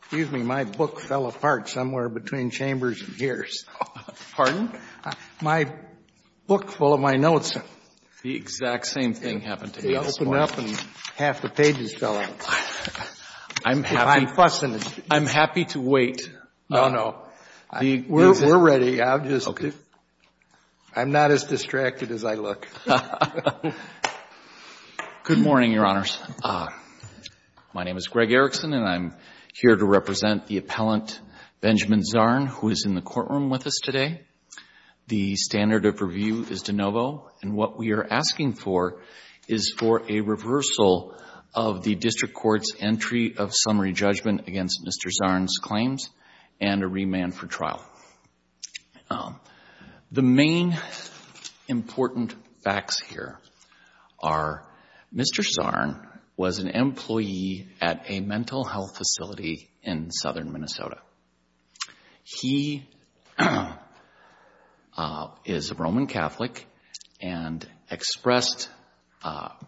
Excuse me, my book fell apart somewhere between chambers and gears. Pardon? My book full of my notes. The exact same thing happened to me this morning. It opened up and half the pages fell out. I'm happy. I'm fussing. I'm happy to wait. No, no. We're ready. Okay. I'm not as distracted as I look. Good morning, Your Honors. My name is Greg Erickson, and I'm here to represent the appellant Benjamin Zarn, who is in the courtroom with us today. The standard of review is de novo. And what we are asking for is for a reversal of the district court's entry of summary judgment against Mr. Zarn's claims and a remand for trial. The main important facts here are Mr. Zarn was an employee at a mental health facility in southern Minnesota. He is a Roman Catholic and expressed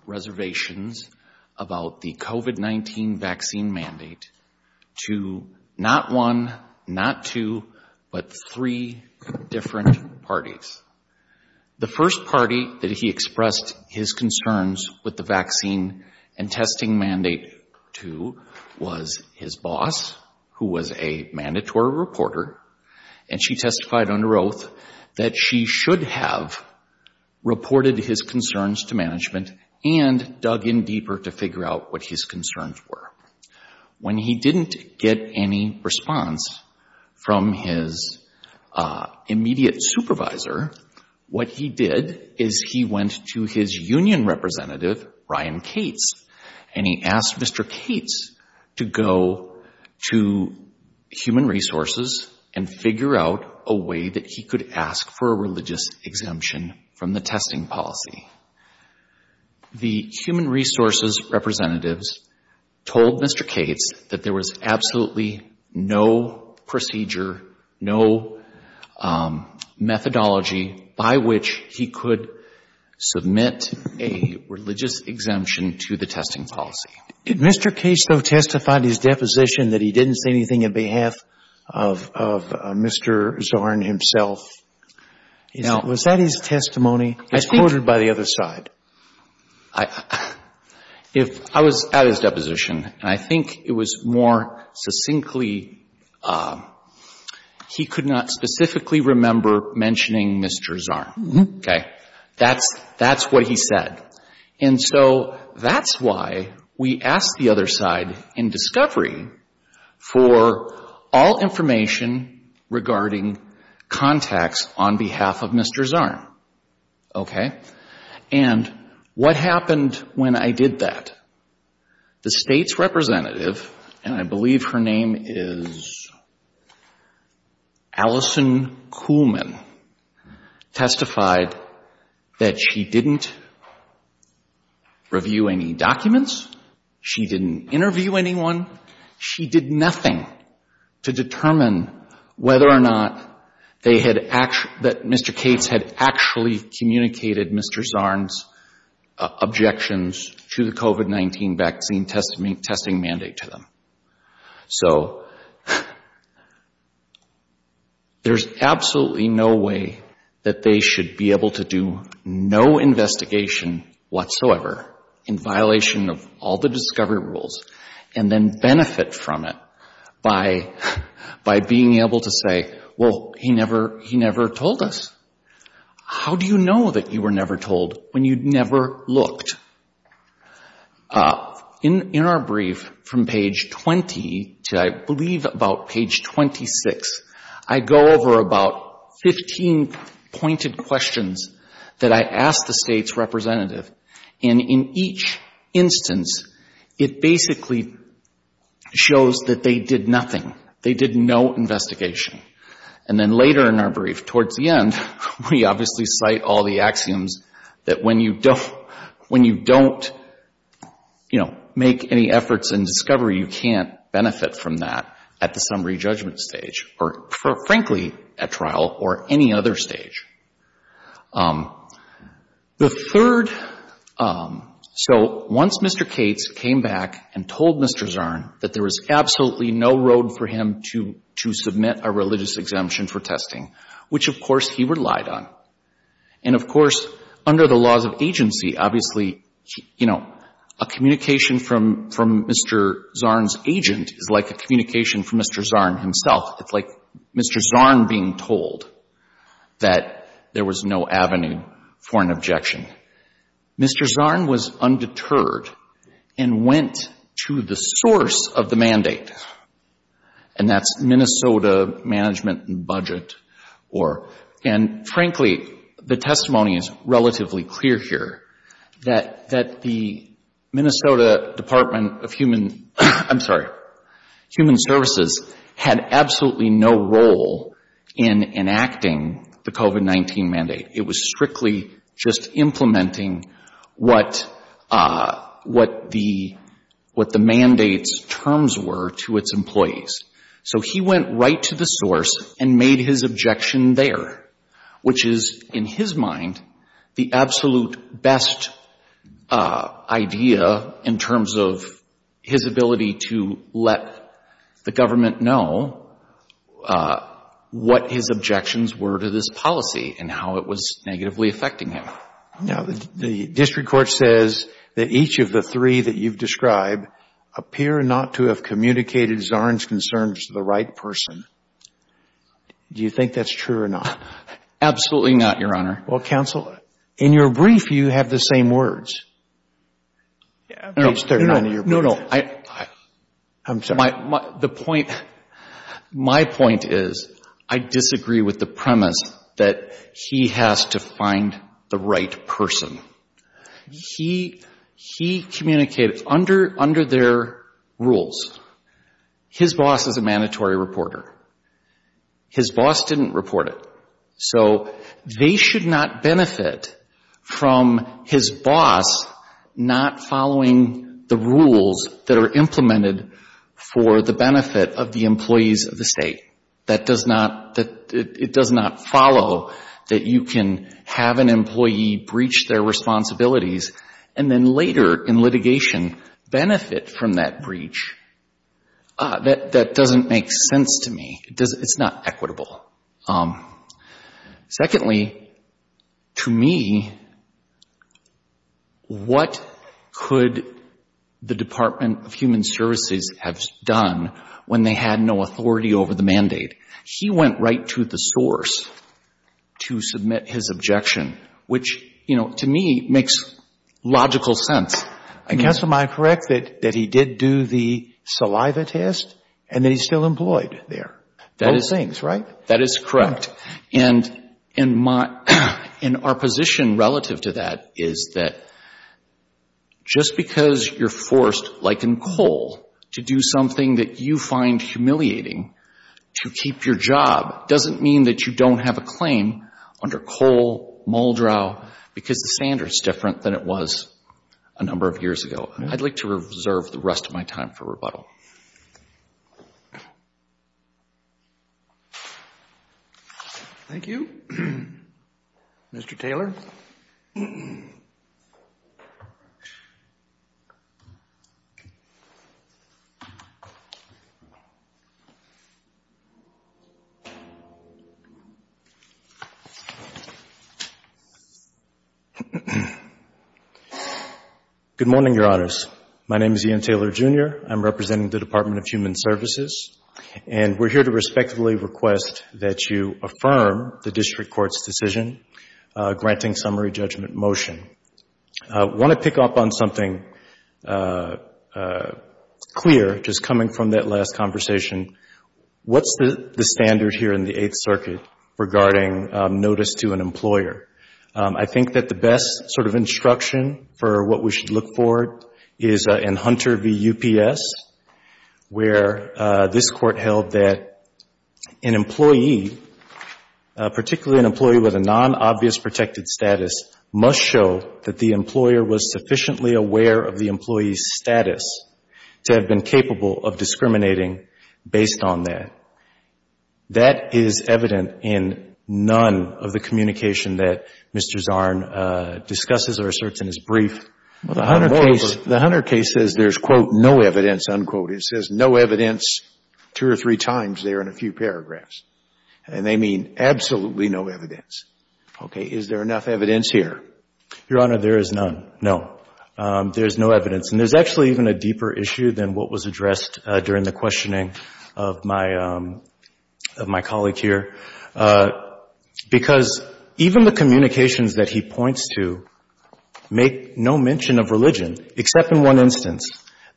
reservations about the COVID-19 vaccine mandate to not one, not two, but three different parties. The first party that he expressed his concerns with the vaccine and testing mandate to was his boss, who was a mandatory reporter, and she testified under oath that she should have reported his concerns to management and dug in deeper to figure out what his concerns were. When he didn't get any response from his immediate supervisor, what he did is he went to his union representative, Ryan Cates, and he asked Mr. Cates to go to Human Resources and figure out a way that he could ask for a religious exemption from the testing policy. The Human Resources representatives told Mr. Cates that there was absolutely no procedure, no methodology by which he could submit a religious exemption to the testing policy. Did Mr. Cates, though, testify to his deposition that he didn't say anything on behalf of Mr. Zarn himself? Now, was that his testimony? It's quoted by the other side. If I was at his deposition, and I think it was more succinctly, he could not specifically remember mentioning Mr. Zarn. Okay. That's what he said. And so that's why we asked the other side in discovery for all information regarding contacts on behalf of Mr. Zarn. Okay. And what happened when I did that? The State's representative, and I believe her name is Allison Kuhlman, testified that she didn't review any documents. She didn't interview anyone. She did nothing to determine whether or not they had actually, that Mr. Cates had actually communicated Mr. Zarn's objections to the COVID-19 vaccine testing mandate to them. So there's absolutely no way that they should be able to do no investigation whatsoever in violation of all the discovery rules and then benefit from it by being able to say, well, he never told us. How do you know that you were never told when you never looked? In our brief from page 20 to, I believe, about page 26, I go over about 15 pointed questions that I ask the State's representative. And in each instance, it basically shows that they did nothing. They did no investigation. And then later in our brief, towards the end, we obviously cite all the axioms that when you don't, you know, make any efforts in discovery, you can't benefit from that at the summary judgment stage or, frankly, at trial or any other stage. The third, so once Mr. Cates came back and told Mr. Zarn that there was absolutely no road for him to submit a religious exemption for testing, which, of course, he relied on, and, of course, under the laws of agency, obviously, you know, a communication from Mr. Zarn's agent is like a communication from Mr. Zarn himself. It's like Mr. Zarn being told that there was no avenue for an objection. Mr. Zarn was undeterred and went to the source of the mandate, and that's Minnesota Management and Budget. And, frankly, the testimony is relatively clear here that the Minnesota Department of Human, I'm sorry, Human Services had absolutely no role in enacting the COVID-19 mandate. It was strictly just implementing what the mandate's terms were to its employees. So he went right to the source and made his objection there, which is, in his mind, the absolute best idea in terms of his ability to let the government know what his objections were to this policy and how it was negatively affecting him. Now, the district court says that each of the three that you've described appear not to have communicated Zarn's concerns to the right person. Do you think that's true or not? Absolutely not, Your Honor. Well, counsel, in your brief, you have the same words. Page 39 of your brief. No, no, no. I'm sorry. My point is I disagree with the premise that he has to find the right person. He communicated under their rules. His boss is a mandatory reporter. His boss didn't report it. So they should not benefit from his boss not following the rules that are implemented for the benefit of the employees of the state. It does not follow that you can have an employee breach their responsibilities and then later in litigation benefit from that breach. That doesn't make sense to me. It's not equitable. Secondly, to me, what could the Department of Human Services have done when they had no authority over the mandate? He went right to the source to submit his objection, which, you know, to me makes logical sense. Counsel, am I correct that he did do the saliva test and that he's still employed there? Both things, right? That is correct. And our position relative to that is that just because you're forced, like in coal, to do something that you find humiliating to keep your job doesn't mean that you don't have a claim under coal, because the standard is different than it was a number of years ago. I'd like to reserve the rest of my time for rebuttal. Thank you. Mr. Taylor. Good morning, Your Honors. My name is Ian Taylor, Jr. I'm representing the Department of Human Services, and we're here to respectively request that you affirm the district court's decision granting summary judgment motion. I want to pick up on something clear just coming from that last conversation. What's the standard here in the Eighth Circuit regarding notice to an employer? I think that the best sort of instruction for what we should look for is in Hunter v. UPS, where this court held that an employee, particularly an employee with a non-obvious protected status, must show that the employer was sufficiently aware of the employee's status to have been capable of discriminating based on that. That is evident in none of the communication that Mr. Zarn discusses or asserts in his brief. The Hunter case says there's, quote, no evidence, unquote. It says no evidence two or three times there in a few paragraphs. And they mean absolutely no evidence. Okay. Is there enough evidence here? Your Honor, there is none. No. There's no evidence. And there's actually even a deeper issue than what was addressed during the questioning of my colleague here, because even the communications that he points to make no mention of religion, except in one instance.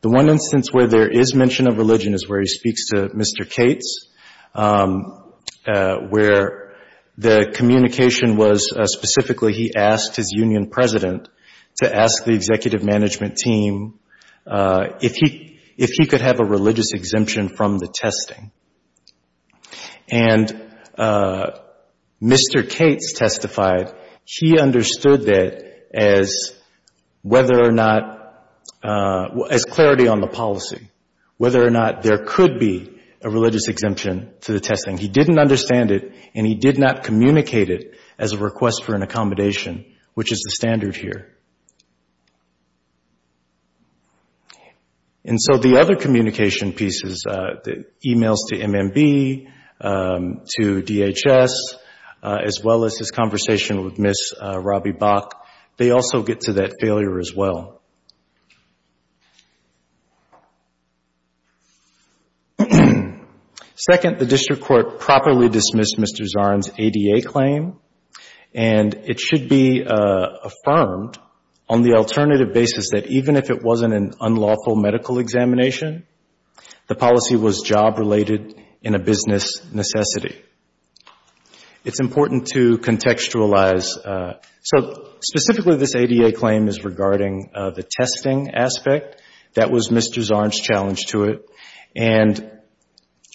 The one instance where there is mention of religion is where he speaks to Mr. Cates, where the communication was specifically he asked his union president to ask the executive management team if he could have a religious exemption from the testing. And Mr. Cates testified he understood that as whether or not, as clarity on the policy, whether or not there could be a religious exemption to the testing. He didn't understand it, and he did not communicate it as a request for an accommodation, which is the standard here. And so the other communication pieces, the e-mails to MMB, to DHS, as well as his conversation with Ms. Robbie Bach, they also get to that failure as well. Second, the district court properly dismissed Mr. Zarn's ADA claim, and it should be affirmed on the alternative basis that even if it wasn't an unlawful medical examination, the policy was job-related in a business necessity. It's important to contextualize. So specifically this ADA claim is regarding the testing aspect. That was Mr. Zarn's challenge to it. And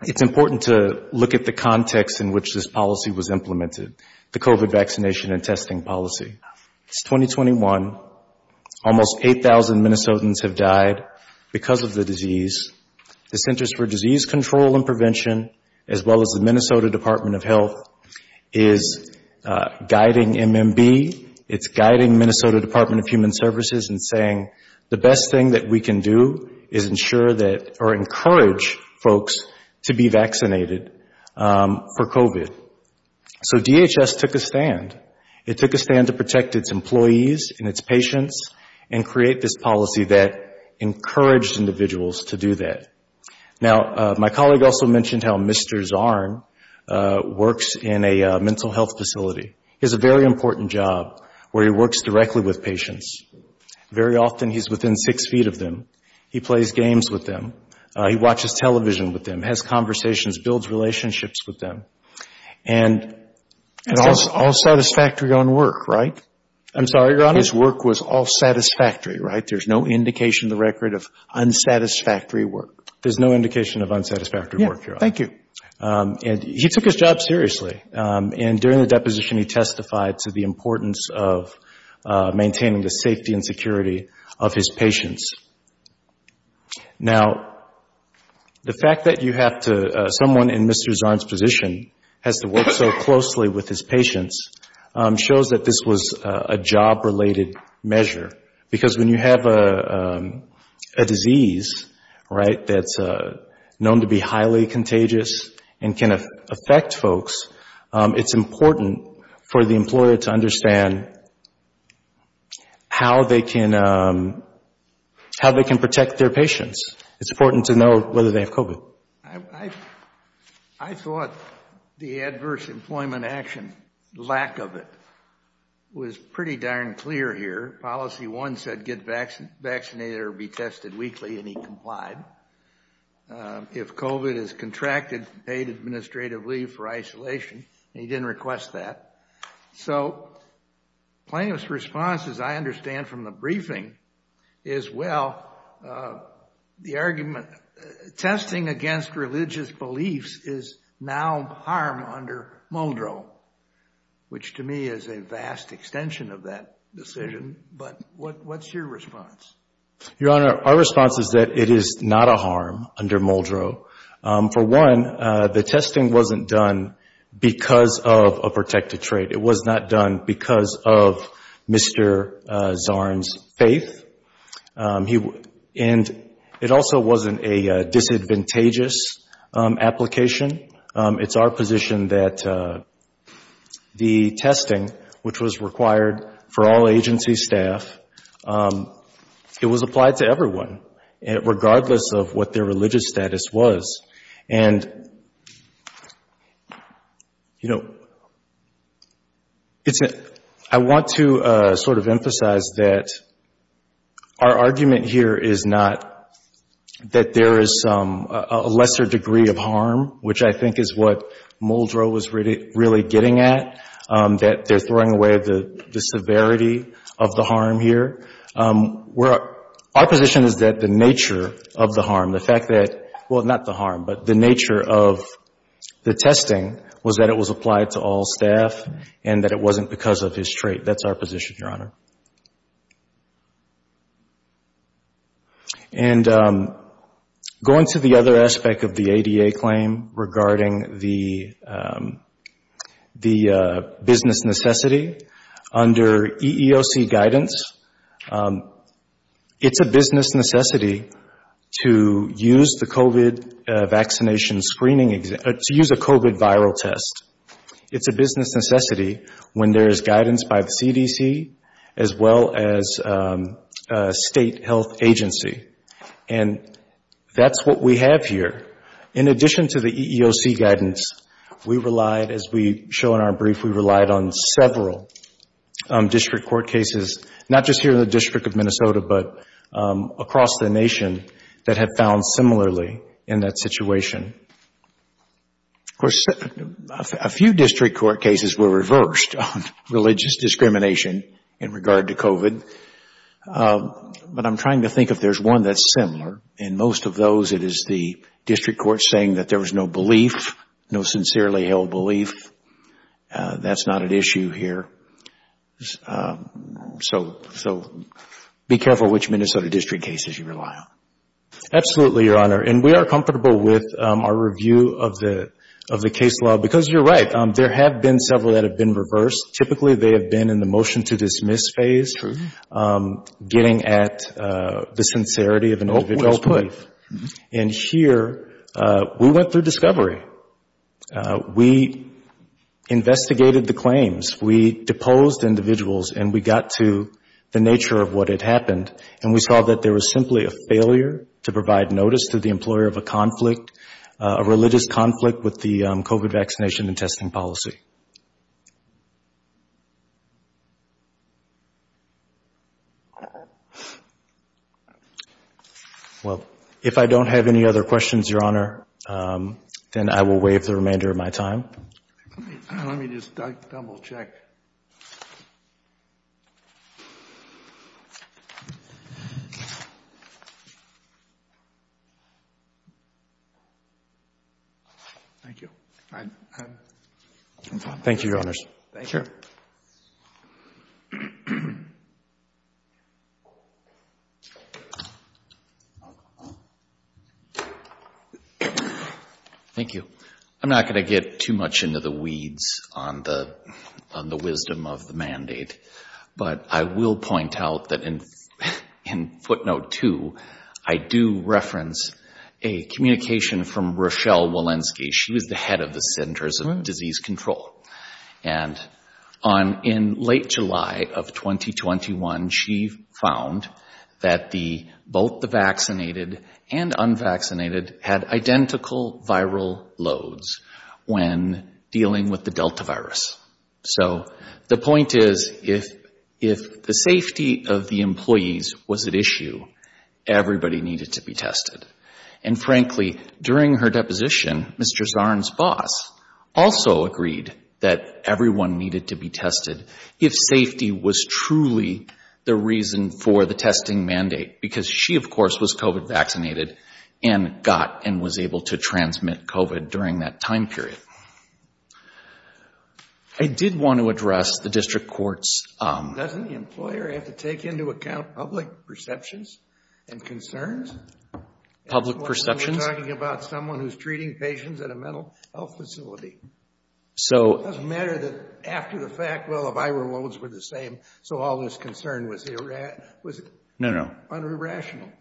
it's important to look at the context in which this policy was implemented, the COVID vaccination and testing policy. It's 2021. Almost 8,000 Minnesotans have died because of the disease. The Centers for Disease Control and Prevention, as well as the Minnesota Department of Health, is guiding MMB. It's guiding Minnesota Department of Human Services in saying the best thing that we can do is ensure that, or encourage folks to be vaccinated for COVID. So DHS took a stand. It took a stand to protect its employees and its patients and create this policy that encouraged individuals to do that. Now, my colleague also mentioned how Mr. Zarn works in a mental health facility. He has a very important job where he works directly with patients. Very often he's within six feet of them. He plays games with them. He watches television with them, has conversations, builds relationships with them. And all satisfactory on work, right? I'm sorry, Your Honor? His work was all satisfactory, right? There's no indication in the record of unsatisfactory work. There's no indication of unsatisfactory work, Your Honor. Thank you. And he took his job seriously. And during the deposition he testified to the importance of maintaining the safety and security of his patients. Now, the fact that you have to, someone in Mr. Zarn's position has to work so closely with his patients, shows that this was a job-related measure. Because when you have a disease, right, that's known to be highly contagious and can affect folks, it's important for the employer to understand how they can protect their patients. It's important to know whether they have COVID. I thought the adverse employment action, lack of it, was pretty darn clear here. Policy one said get vaccinated or be tested weekly, and he complied. If COVID is contracted, paid administrative leave for isolation. He didn't request that. So plaintiff's response, as I understand from the briefing, is well, the argument, testing against religious beliefs is now harm under Muldrow, which to me is a vast extension of that decision. But what's your response? Your Honor, our response is that it is not a harm under Muldrow. For one, the testing wasn't done because of a protected trait. It was not done because of Mr. Zarn's faith. And it also wasn't a disadvantageous application. It's our position that the testing, which was required for all agency staff, it was applied to everyone, regardless of what their religious status was. And, you know, I want to sort of emphasize that our argument here is not that there is a lesser degree of harm, which I think is what Muldrow was really getting at, that they're throwing away the severity of the harm here. Our position is that the nature of the harm, the fact that, well, not the harm, but the nature of the testing was that it was applied to all staff and that it wasn't because of his trait. That's our position, Your Honor. And going to the other aspect of the ADA claim regarding the business necessity, under EEOC guidance, it's a business necessity to use the COVID vaccination screening, to use a COVID viral test. It's a business necessity when there is guidance by the CDC as well as a state health agency. And that's what we have here. In addition to the EEOC guidance, we relied, as we show in our brief, we relied on several district court cases, not just here in the District of Minnesota, but across the nation that had found similarly in that situation. Of course, a few district court cases were reversed on religious discrimination in regard to COVID, but I'm trying to think if there's one that's similar. In most of those, it is the district court saying that there was no belief, no sincerely held belief. That's not an issue here. So be careful which Minnesota district cases you rely on. Absolutely, Your Honor. And we are comfortable with our review of the case law because, you're right, there have been several that have been reversed. Typically, they have been in the motion to dismiss phase, getting at the sincerity of an individual's belief. And here, we went through discovery. We investigated the claims. We deposed individuals, and we got to the nature of what had happened, and we saw that there was simply a failure to provide notice to the employer of a conflict, a religious conflict with the COVID vaccination and testing policy. Well, if I don't have any other questions, Your Honor, then I will waive the remainder of my time. Let me just double check. Thank you. Thank you, Your Honors. Thank you. Thank you. I'm not going to get too much into the weeds on the wisdom of the mandate, but I will point out that in footnote two, I do reference a communication from Rochelle Walensky. She was the head of the Centers of Disease Control. And in late July of 2021, she found that both the vaccinated and unvaccinated had identical viral loads when dealing with the Delta virus. So the point is, if the safety of the employees was at issue, everybody needed to be tested. And frankly, during her deposition, Mr. Zarn's boss also agreed that everyone needed to be tested if safety was truly the reason for the testing mandate, because she, of course, was COVID vaccinated and got and was able to transmit COVID during that time period. I did want to address the district court's... Public perceptions? We're talking about someone who's treating patients at a mental health facility. So... It doesn't matter that after the fact, well, the viral loads were the same, so all this concern was irrational. No, no.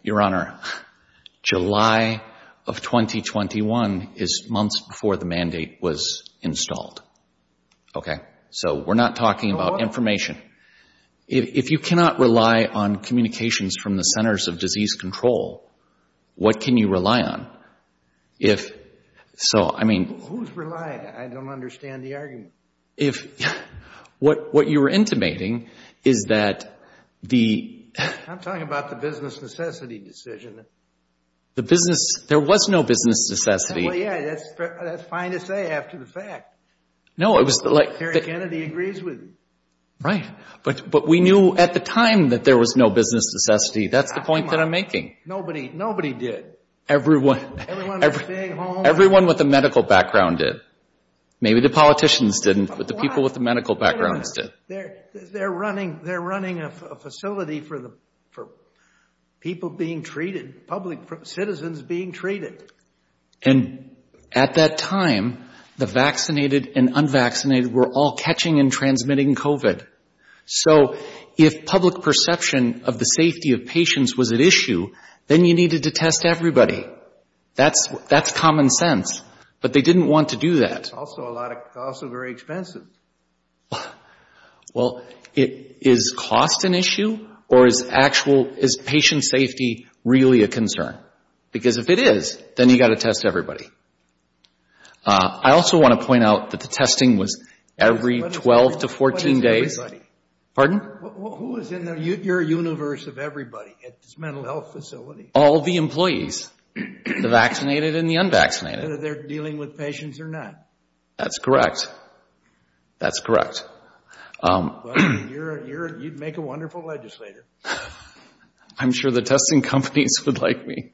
Your Honor, July of 2021 is months before the mandate was installed. Okay? So we're not talking about information. If you cannot rely on communications from the Centers of Disease Control, what can you rely on? So, I mean... Who's relying? I don't understand the argument. What you're intimating is that the... I'm talking about the business necessity decision. The business... there was no business necessity. Well, yeah, that's fine to say after the fact. No, it was like... But we knew at the time that there was no business necessity. That's the point that I'm making. Nobody did. Everyone... Everyone had a big home. Everyone with a medical background did. Maybe the politicians didn't, but the people with the medical backgrounds did. They're running a facility for people being treated, public citizens being treated. And at that time, the vaccinated and unvaccinated were all catching and transmitting COVID. So, if public perception of the safety of patients was at issue, then you needed to test everybody. That's common sense, but they didn't want to do that. That's also a lot of... also very expensive. Well, is cost an issue, or is actual... is patient safety really a concern? Because if it is, then you've got to test everybody. I also want to point out that the testing was every 12 to 14 days. What is everybody? Pardon? Who is in your universe of everybody at this mental health facility? All the employees, the vaccinated and the unvaccinated. Whether they're dealing with patients or not. That's correct. That's correct. You'd make a wonderful legislator. I'm sure the testing companies would like me.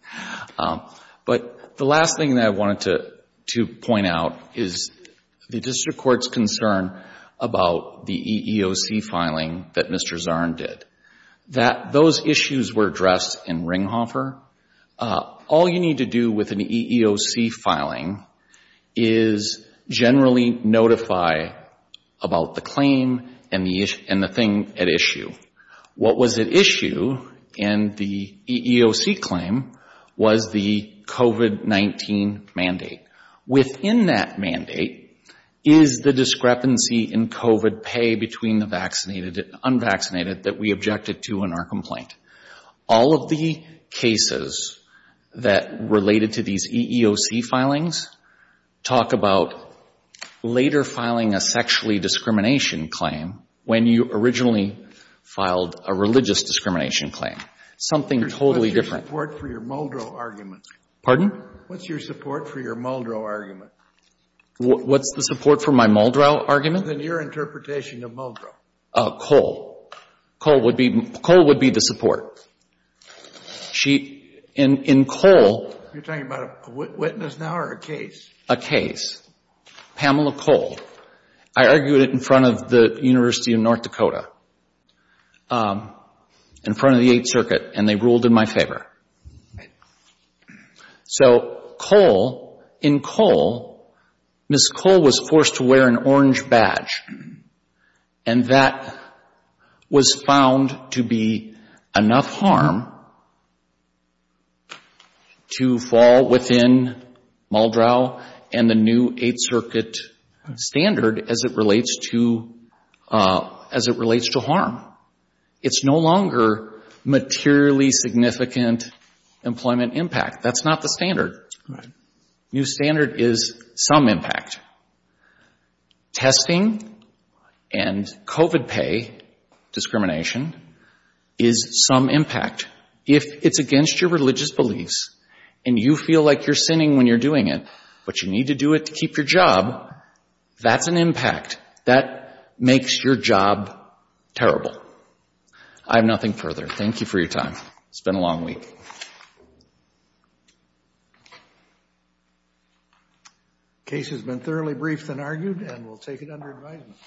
But the last thing that I wanted to point out is the district court's concern about the EEOC filing that Mr. Zarn did. Those issues were addressed in Ringhofer. All you need to do with an EEOC filing is generally notify about the claim and the thing at issue. What was at issue in the EEOC claim was the COVID-19 mandate. Within that mandate is the discrepancy in COVID pay between the vaccinated and unvaccinated that we objected to in our complaint. All of the cases that related to these EEOC filings talk about later filing a sexually discrimination claim when you originally filed a religious discrimination claim. Something totally different. What's your support for your Muldrow argument? Pardon? What's your support for your Muldrow argument? What's the support for my Muldrow argument? Your interpretation of Muldrow. Cole. Cole would be the support. In Cole. You're talking about a witness now or a case? A case. Pamela Cole. I argued it in front of the University of North Dakota, in front of the Eighth Circuit, and they ruled in my favor. So Cole, in Cole, Ms. Cole was forced to wear an orange badge, and that was found to be enough harm to fall within Muldrow and the new Eighth Circuit standard as it relates to harm. It's no longer materially significant employment impact. That's not the standard. Right. New standard is some impact. Testing and COVID pay discrimination is some impact. If it's against your religious beliefs and you feel like you're sinning when you're doing it, but you need to do it to keep your job, that's an impact. That makes your job terrible. I have nothing further. Thank you for your time. It's been a long week. The case has been thoroughly briefed and argued, and we'll take it under advisement.